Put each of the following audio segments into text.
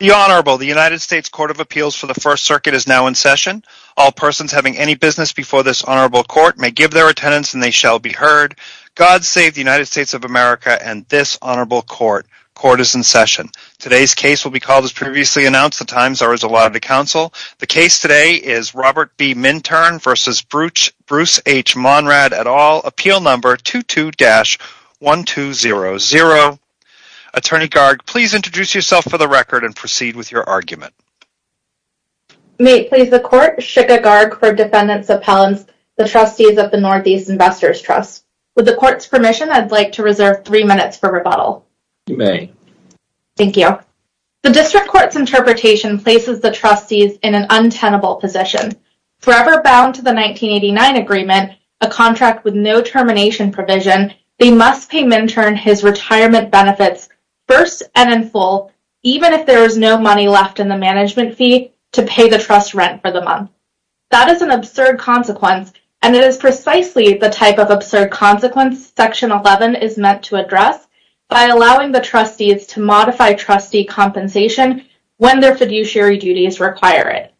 The United States Court of Appeals for the First Circuit is now in session. All persons having any business before this honorable court may give their attendance and they shall be heard. God save the United States of America and this honorable court. Court is in session. Today's case will be called as previously announced. The times are as allotted to counsel. The case today is Robert B. Minturn v. Bruce H. Monrad et al. Appeal number 22-1200. Attorney Garg, please introduce yourself for the record and proceed with your argument. May it please the court, Shikha Garg for defendants' appellants, the trustees of the Northeast Investors Trust. With the court's permission, I'd like to reserve three minutes for rebuttal. You may. Thank you. The district court's interpretation places the trustees in an untenable position. Forever bound to the 1989 agreement, a contract with no termination provision, they must pay Minturn his retirement benefits first and in full, even if there is no money left in the management fee, to pay the trust rent for the month. That is an absurd consequence, and it is precisely the type of absurd consequence Section 11 is meant to address by allowing the trustees to modify trustee compensation when their fiduciary duties require it.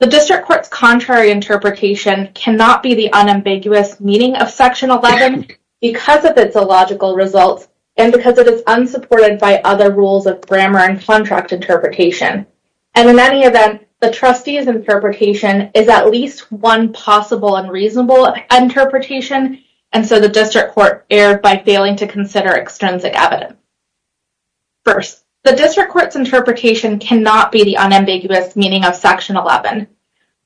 The district court's contrary interpretation cannot be the unambiguous meaning of Section 11 because of its illogical results and because it is unsupported by other rules of grammar and contract interpretation. And in any event, the trustees' interpretation is at least one possible and reasonable interpretation, and so the district court erred by failing to consider extrinsic evidence. First, the district court's interpretation cannot be the unambiguous meaning of Section 11.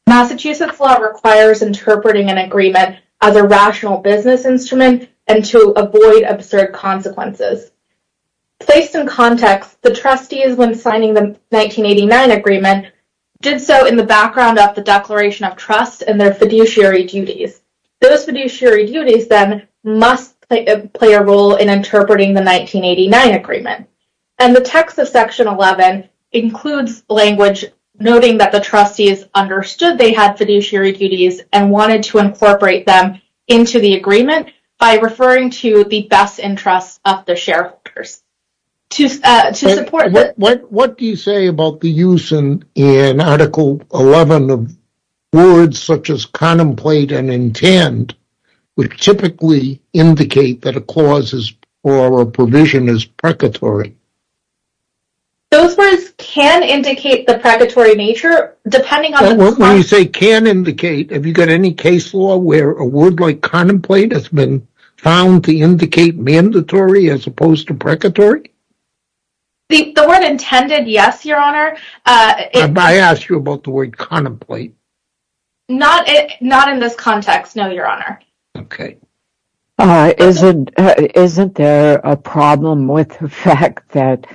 Massachusetts law requires interpreting an agreement as a rational business instrument and to avoid absurd consequences. Placed in context, the trustees, when signing the 1989 agreement, did so in the background of the Declaration of Trust and their fiduciary duties. Those fiduciary duties, then, must play a role in interpreting the 1989 agreement. And the text of Section 11 includes language noting that the trustees understood they had fiduciary duties and wanted to incorporate them into the agreement by referring to the best interests of the shareholders. What do you say about the use in Article 11 of words such as contemplate and intend which typically indicate that a clause or a provision is precatory? Those words can indicate the precatory nature, depending on the clause. What do you say can indicate? Have you got any case law where a word like contemplate has been found to indicate mandatory as opposed to precatory? The word intended, yes, Your Honor. Have I asked you about the word contemplate? Not in this context, no, Your Honor. Okay. Isn't there a problem with the fact that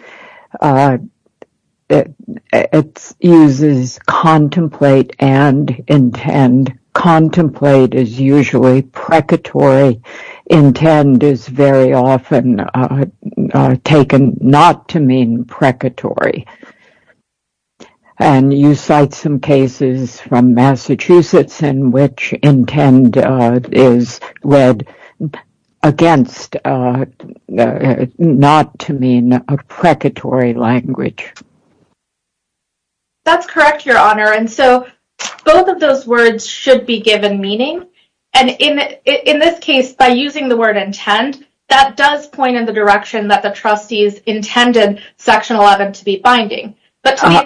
it uses contemplate and intend? Contemplate is usually precatory. Intend is very often taken not to mean precatory. And you cite some cases from Massachusetts in which intend is read against not to mean a precatory language. That's correct, Your Honor. And so both of those words should be given meaning. And in this case, by using the word intend, that does point in the direction that the trustees intended Section 11 to be binding. Pardon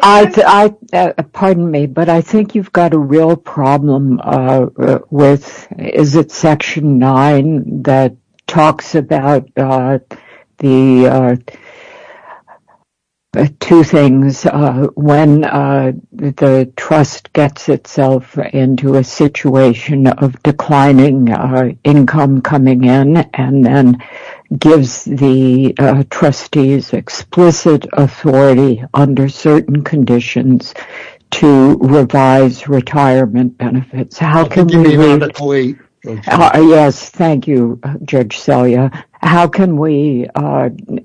me, but I think you've got a real problem with is it Section 9 that talks about the two things. When the trust gets itself into a situation of declining income coming in and then gives the trustees explicit authority under certain conditions to revise retirement benefits. Yes, thank you, Judge Selya. How can we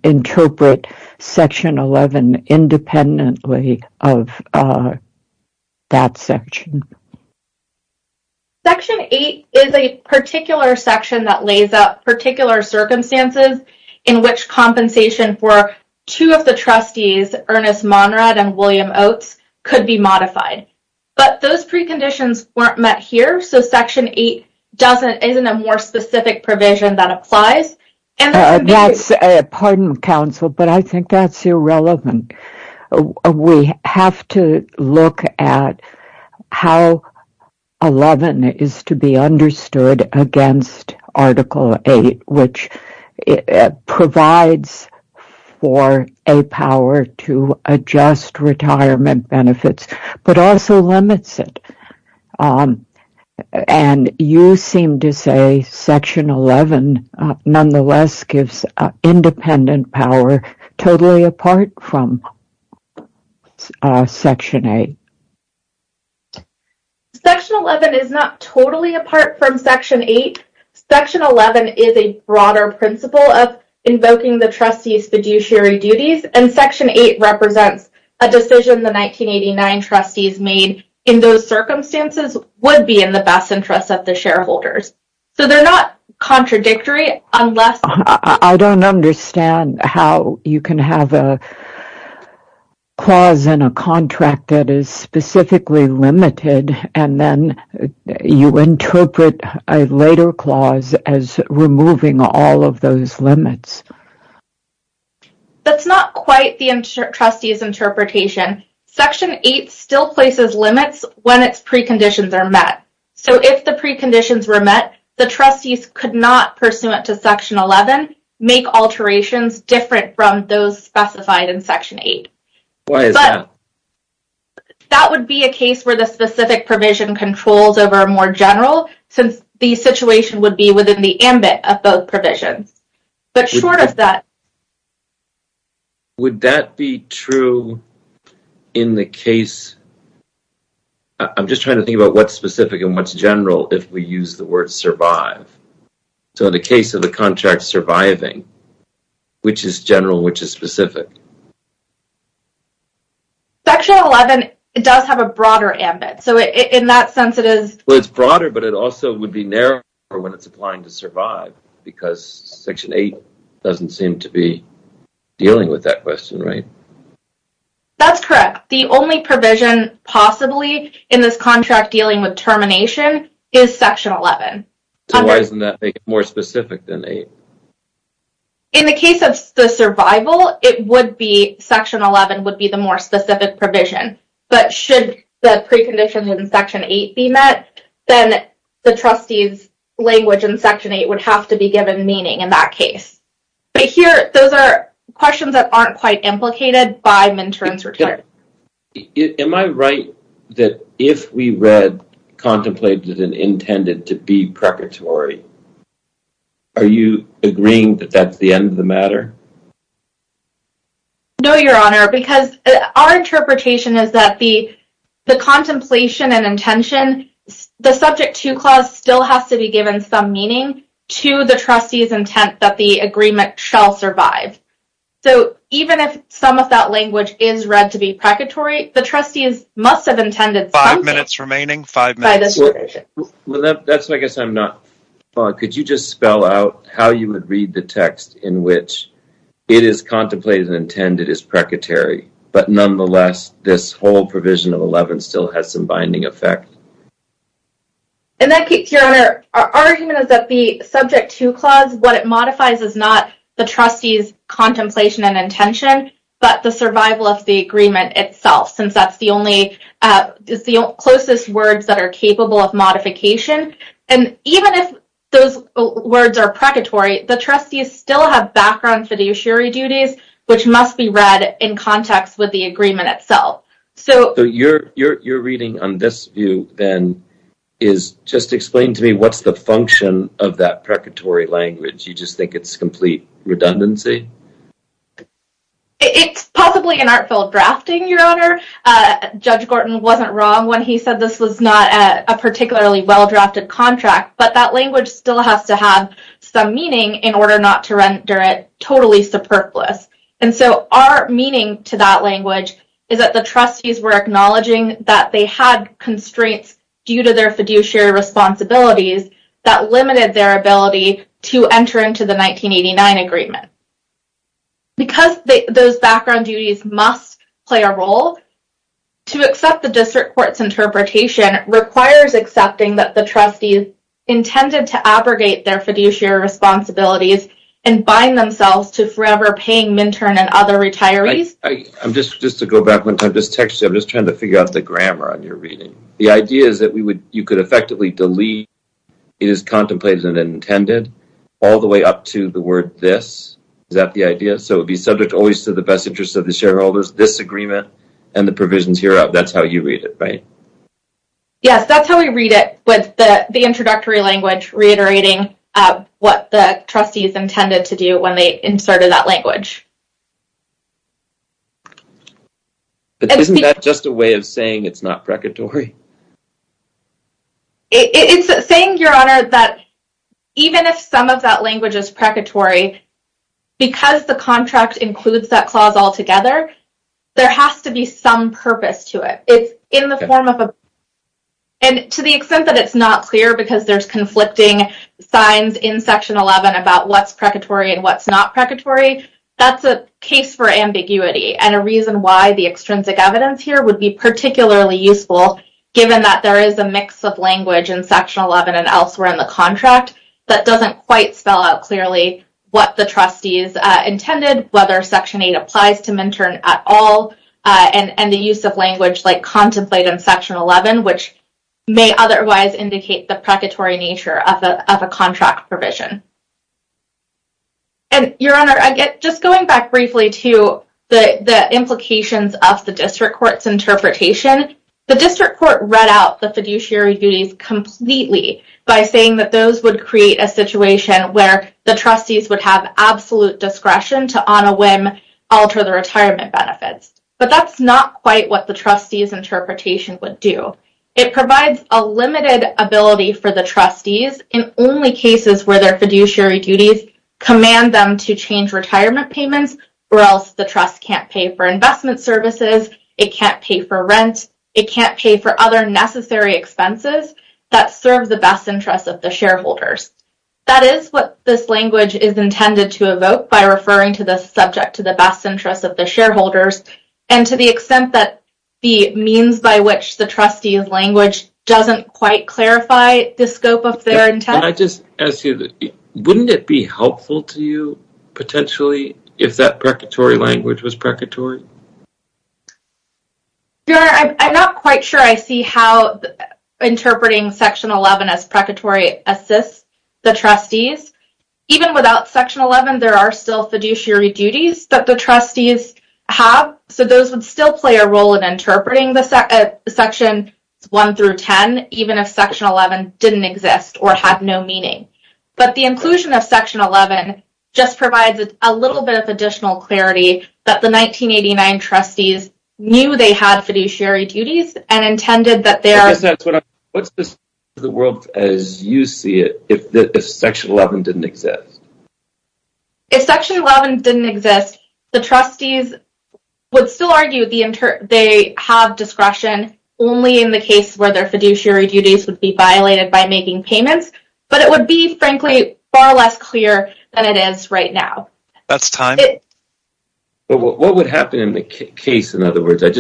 interpret Section 11 independently of that section? Section 8 is a particular section that lays out particular circumstances in which compensation for two of the trustees, Ernest Monrad and William Oates, could be modified. But those preconditions weren't met here, so Section 8 isn't a more specific provision that applies. Pardon, counsel, but I think that's irrelevant. We have to look at how 11 is to be understood against Article 8, which provides for a power to adjust retirement benefits. But also limits it. And you seem to say Section 11 nonetheless gives independent power totally apart from Section 8. Section 11 is not totally apart from Section 8. Section 11 is a broader principle of invoking the trustees' fiduciary duties, and Section 8 represents a decision the 1989 trustees made in those circumstances would be in the best interest of the shareholders. So they're not contradictory unless— I don't understand how you can have a clause in a contract that is specifically limited, and then you interpret a later clause as removing all of those limits. That's not quite the trustees' interpretation. Section 8 still places limits when its preconditions are met. So if the preconditions were met, the trustees could not, pursuant to Section 11, make alterations different from those specified in Section 8. Why is that? That would be a case where the specific provision controls over a more general, since the situation would be within the ambit of both provisions. But short of that— Would that be true in the case—I'm just trying to think about what's specific and what's general if we use the word survive. So in the case of a contract surviving, which is general and which is specific? Section 11 does have a broader ambit. Well, it's broader, but it also would be narrower when it's applying to survive, because Section 8 doesn't seem to be dealing with that question, right? That's correct. The only provision possibly in this contract dealing with termination is Section 11. So why doesn't that make it more specific than 8? In the case of the survival, it would be—Section 11 would be the more specific provision. But should the preconditions in Section 8 be met, then the trustee's language in Section 8 would have to be given meaning in that case. But here, those are questions that aren't quite implicated by Mintoren's return. Am I right that if we read contemplated and intended to be preparatory, are you agreeing that that's the end of the matter? No, Your Honor, because our interpretation is that the contemplation and intention—the Subject 2 clause still has to be given some meaning to the trustee's intent that the agreement shall survive. So even if some of that language is read to be preparatory, the trustees must have intended something by this provision. Five minutes remaining. Five minutes. That's why I guess I'm not—could you just spell out how you would read the text in which it is contemplated and intended as preparatory, but nonetheless this whole provision of 11 still has some binding effect? In that case, Your Honor, our argument is that the Subject 2 clause, what it modifies is not the trustee's contemplation and intention, but the survival of the agreement itself, since that's the only—it's the closest words that are capable of modification. And even if those words are preparatory, the trustees still have background fiduciary duties, which must be read in context with the agreement itself. So your reading on this view, then, is just explain to me what's the function of that preparatory language? You just think it's complete redundancy? It's possibly an artful drafting, Your Honor. Judge Gorton wasn't wrong when he said this was not a particularly well-drafted contract, but that language still has to have some meaning in order not to render it totally superfluous. And so our meaning to that language is that the trustees were acknowledging that they had constraints due to their fiduciary responsibilities that limited their ability to enter into the 1989 agreement. Because those background duties must play a role, to accept the district court's interpretation requires accepting that the trustees intended to abrogate their fiduciary responsibilities and bind themselves to forever paying MNTERN and other retirees. I'm just trying to figure out the grammar on your reading. The idea is that you could effectively delete, it is contemplated and intended, all the way up to the word this. Is that the idea? So it would be subject always to the best interests of the shareholders, this agreement, and the provisions hereof. That's how you read it, right? Yes, that's how we read it with the introductory language reiterating what the trustees intended to do when they inserted that language. Isn't that just a way of saying it's not precatory? It's saying, Your Honor, that even if some of that language is precatory, because the contract includes that clause altogether, there has to be some purpose to it. And to the extent that it's not clear because there's conflicting signs in Section 11 about what's precatory and what's not precatory, that's a case for ambiguity and a reason why the extrinsic evidence here would be particularly useful, given that there is a mix of language in Section 11 and elsewhere in the contract that doesn't quite spell out clearly what the trustees intended, whether Section 8 applies to MNTERN at all, and the use of language like contemplate in Section 11, which may otherwise indicate the precatory nature of a contract provision. And, Your Honor, just going back briefly to the implications of the district court's interpretation, the district court read out the fiduciary duties completely by saying that those would create a situation where the trustees would have absolute discretion to on a whim alter the retirement benefits. But that's not quite what the trustees' interpretation would do. It provides a limited ability for the trustees in only cases where their fiduciary duties command them to change retirement payments or else the trust can't pay for investment services, it can't pay for rent, it can't pay for other necessary expenses that serve the best interests of the shareholders. That is what this language is intended to evoke by referring to the subject to the best interests of the shareholders and to the extent that the means by which the trustees' language doesn't quite clarify the scope of their intent. Can I just ask you, wouldn't it be helpful to you, potentially, if that precatory language was precatory? Your Honor, I'm not quite sure I see how interpreting Section 11 as precatory assists the trustees. Even without Section 11, there are still fiduciary duties that the trustees have, so those would still play a role in interpreting Section 1 through 10, even if Section 11 didn't exist or had no meaning. But the inclusion of Section 11 just provides a little bit of additional clarity that the 1989 trustees knew they had fiduciary duties and intended that they are… What's the state of the world as you see it if Section 11 didn't exist? If Section 11 didn't exist, the trustees would still argue they have discretion only in the case where their fiduciary duties would be violated by making payments, but it would be, frankly, far less clear than it is right now. That's time. What would happen in the case, in other words? You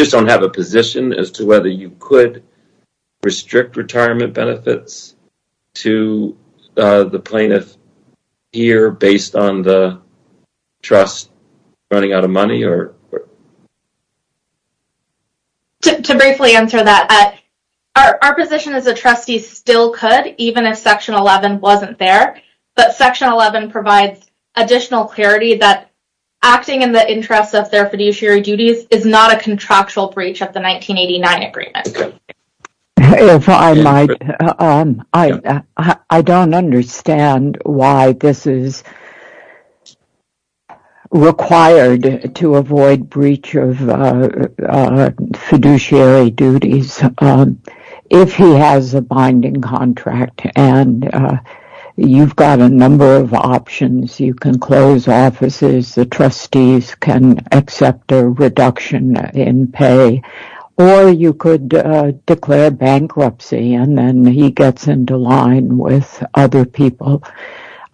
just don't have a position as to whether you could restrict retirement benefits to the plaintiff here based on the trust running out of money? To briefly answer that, our position is that trustees still could, even if Section 11 wasn't there, but Section 11 provides additional clarity that acting in the interest of their fiduciary duties is not a contractual breach of the 1989 agreement. If I might, I don't understand why this is required to avoid breach of fiduciary duties if he has a binding contract and you've got a number of options. You can close offices, the trustees can accept a reduction in pay, or you could declare bankruptcy and then he gets into line with other people.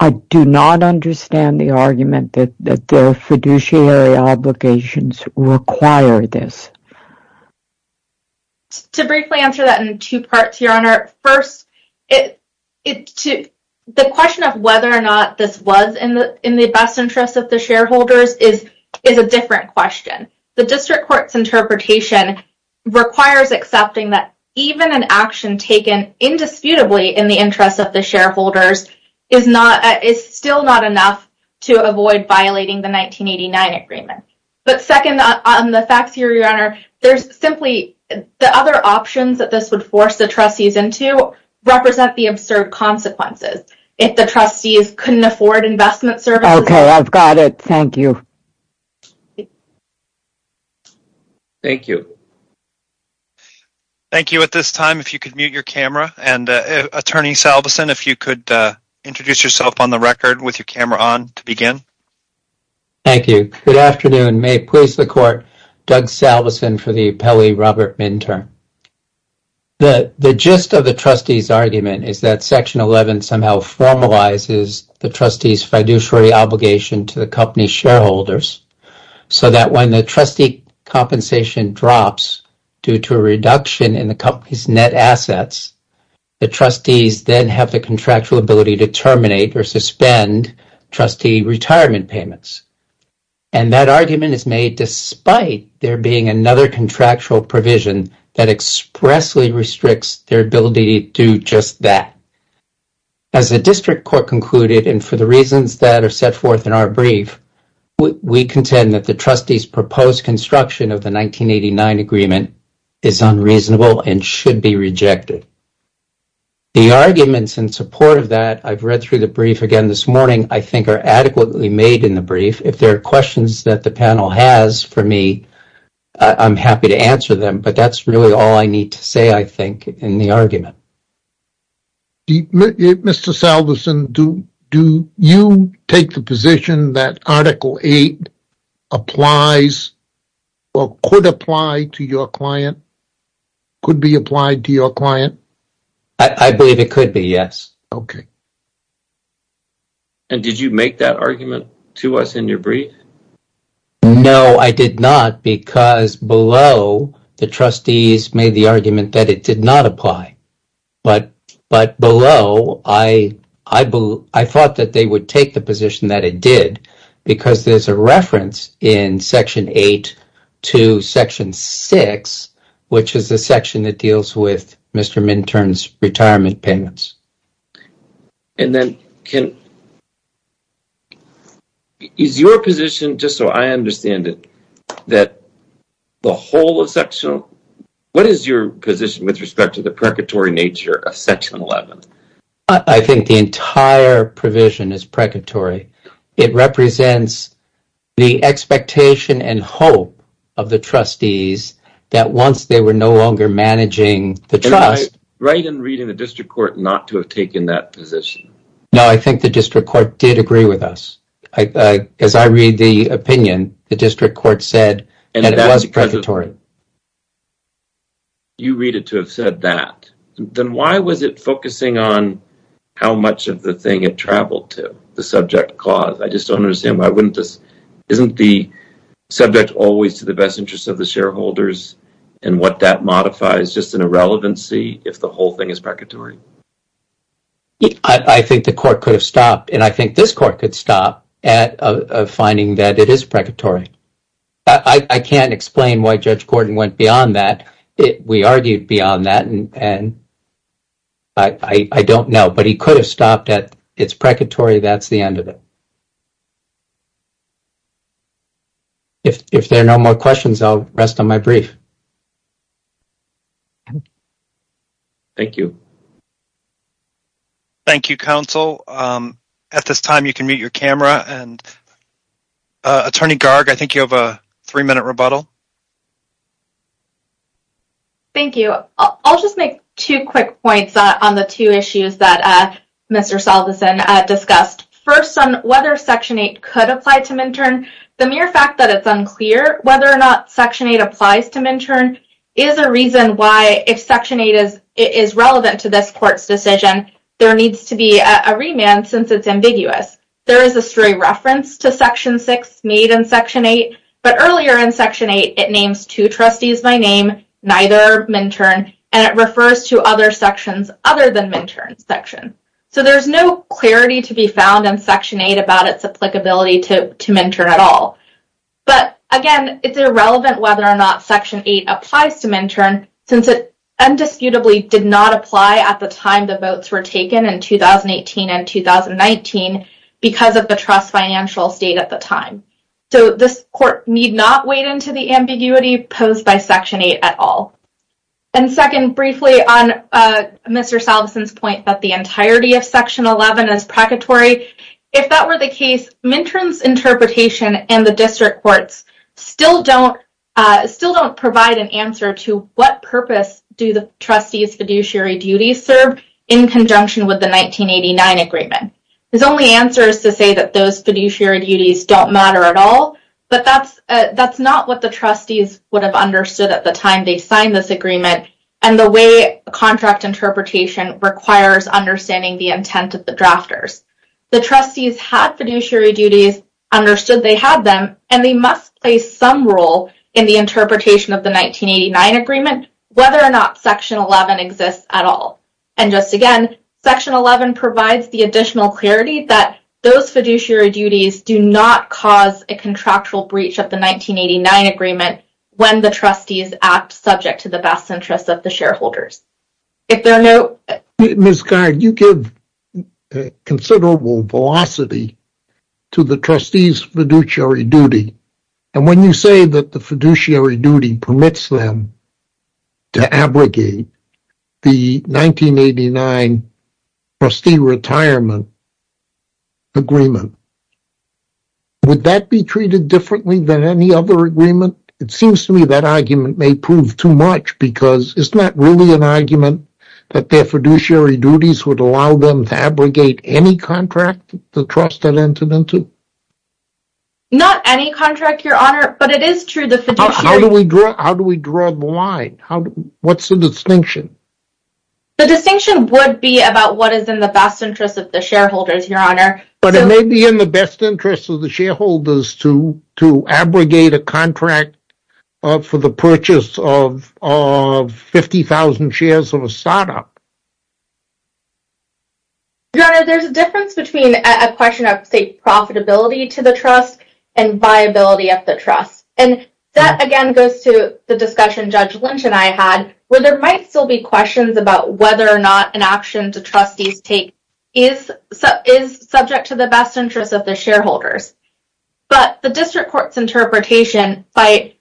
I do not understand the argument that the fiduciary obligations require this. To briefly answer that in two parts, Your Honor, first, the question of whether or not this was in the best interest of the shareholders is a different question. The district court's interpretation requires accepting that even an action taken indisputably in the interest of the shareholders is still not enough to avoid violating the 1989 agreement. But second, on the facts here, Your Honor, there's simply the other options that this would force the trustees into represent the absurd consequences. If the trustees couldn't afford investment services... Okay, I've got it. Thank you. Thank you. Thank you. At this time, if you could mute your camera and Attorney Salveson, if you could introduce yourself on the record with your camera on to begin. Thank you. Good afternoon. May it please the court, Doug Salveson for the appellee Robert Minter. The gist of the trustees' argument is that Section 11 somehow formalizes the trustees' fiduciary obligation to the company's shareholders so that when the trustee compensation drops due to a reduction in the company's net assets, the trustees then have the contractual ability to terminate or suspend trustee retirement payments. And that argument is made despite there being another contractual provision that expressly restricts their ability to do just that. As the district court concluded, and for the reasons that are set forth in our brief, we contend that the trustees' proposed construction of the 1989 agreement is unreasonable and should be rejected. The arguments in support of that, I've read through the brief again this morning, I think are adequately made in the brief. If there are questions that the panel has for me, I'm happy to answer them, but that's really all I need to say, I think, in the argument. Mr. Salveson, do you take the position that Article 8 applies or could apply to your client, could be applied to your client? I believe it could be, yes. Okay. And did you make that argument to us in your brief? No, I did not, because below, the trustees made the argument that it did not apply. But below, I thought that they would take the position that it did, because there's a reference in Section 8 to Section 6, which is the section that deals with Mr. Minton's retirement payments. And then, is your position, just so I understand it, that the whole of Section, what is your position with respect to the precatory nature of Section 11? I think the entire provision is precatory. It represents the expectation and hope of the trustees that once they were no longer managing the trust. Am I right in reading the district court not to have taken that position? No, I think the district court did agree with us. As I read the opinion, the district court said that it was precatory. You read it to have said that. Then why was it focusing on how much of the thing it traveled to, the subject clause? I just don't understand. Isn't the subject always to the best interest of the shareholders, and what that modifies just an irrelevancy if the whole thing is precatory? I think the court could have stopped, and I think this court could stop at a finding that it is precatory. I can't explain why Judge Gordon went beyond that. We argued beyond that, and I don't know. But he could have stopped at, it's precatory, that's the end of it. If there are no more questions, I'll rest on my brief. Thank you. Thank you, counsel. At this time, you can mute your camera, and Attorney Garg, I think you have a three-minute rebuttal. Thank you. I'll just make two quick points on the two issues that Mr. Salveson discussed. First, on whether Section 8 could apply to MNTERN. The mere fact that it's unclear whether or not Section 8 applies to MNTERN is a reason why, if Section 8 is relevant to this court's decision, there needs to be a remand since it's ambiguous. There is a stray reference to Section 6 made in Section 8, but earlier in Section 8, it names two trustees by name, neither MNTERN, and it refers to other sections other than MNTERN's section. So, there's no clarity to be found in Section 8 about its applicability to MNTERN at all. But, again, it's irrelevant whether or not Section 8 applies to MNTERN since it indisputably did not apply at the time the votes were taken in 2018 and 2019 because of the trust financial state at the time. So, this court need not wade into the ambiguity posed by Section 8 at all. And second, briefly on Mr. Salveson's point that the entirety of Section 11 is precatory, if that were the case, MNTERN's interpretation and the district courts still don't provide an answer to what purpose do the trustees' fiduciary duties serve in conjunction with the 1989 agreement. His only answer is to say that those fiduciary duties don't matter at all, but that's not what the trustees would have understood at the time they signed this agreement and the way contract interpretation requires understanding the intent of the drafters. The trustees had fiduciary duties, understood they had them, and they must play some role in the interpretation of the 1989 agreement whether or not Section 11 exists at all. And just again, Section 11 provides the additional clarity that those fiduciary duties do not cause a contractual breach of the 1989 agreement when the trustees act subject to the best interests of the shareholders. Ms. Gard, you give considerable velocity to the trustees' fiduciary duty, and when you say that the fiduciary duty permits them to abrogate the 1989 trustee retirement agreement, would that be treated differently than any other agreement? It seems to me that argument may prove too much because it's not really an argument that their fiduciary duties would allow them to abrogate any contract the trust had entered into. Not any contract, Your Honor, but it is true that the fiduciary... How do we draw the line? What's the distinction? The distinction would be about what is in the best interest of the shareholders, Your Honor. But it may be in the best interest of the shareholders to abrogate a contract for the purchase of 50,000 shares of a startup. Your Honor, there's a difference between a question of, say, profitability to the trust and viability of the trust. And that, again, goes to the discussion Judge Lynch and I had where there might still be questions about whether or not an action the trustees take is subject to the best interest of the shareholders. But the district court's interpretation, by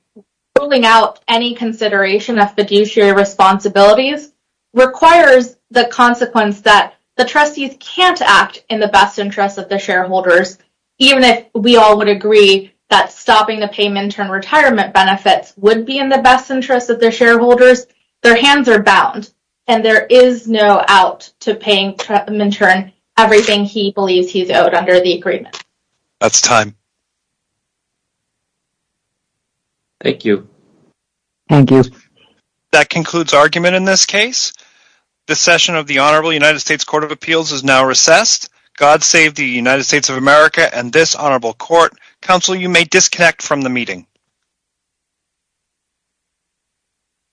ruling out any consideration of fiduciary responsibilities, requires the consequence that the trustees can't act in the best interest of the shareholders. Even if we all would agree that stopping the payment in retirement benefits would be in the best interest of the shareholders, their hands are bound. And there is no out to paying Minton everything he believes he's owed under the agreement. That's time. Thank you. Thank you. That concludes argument in this case. The session of the Honorable United States Court of Appeals is now recessed. God save the United States of America and this honorable court. Counsel, you may disconnect from the meeting.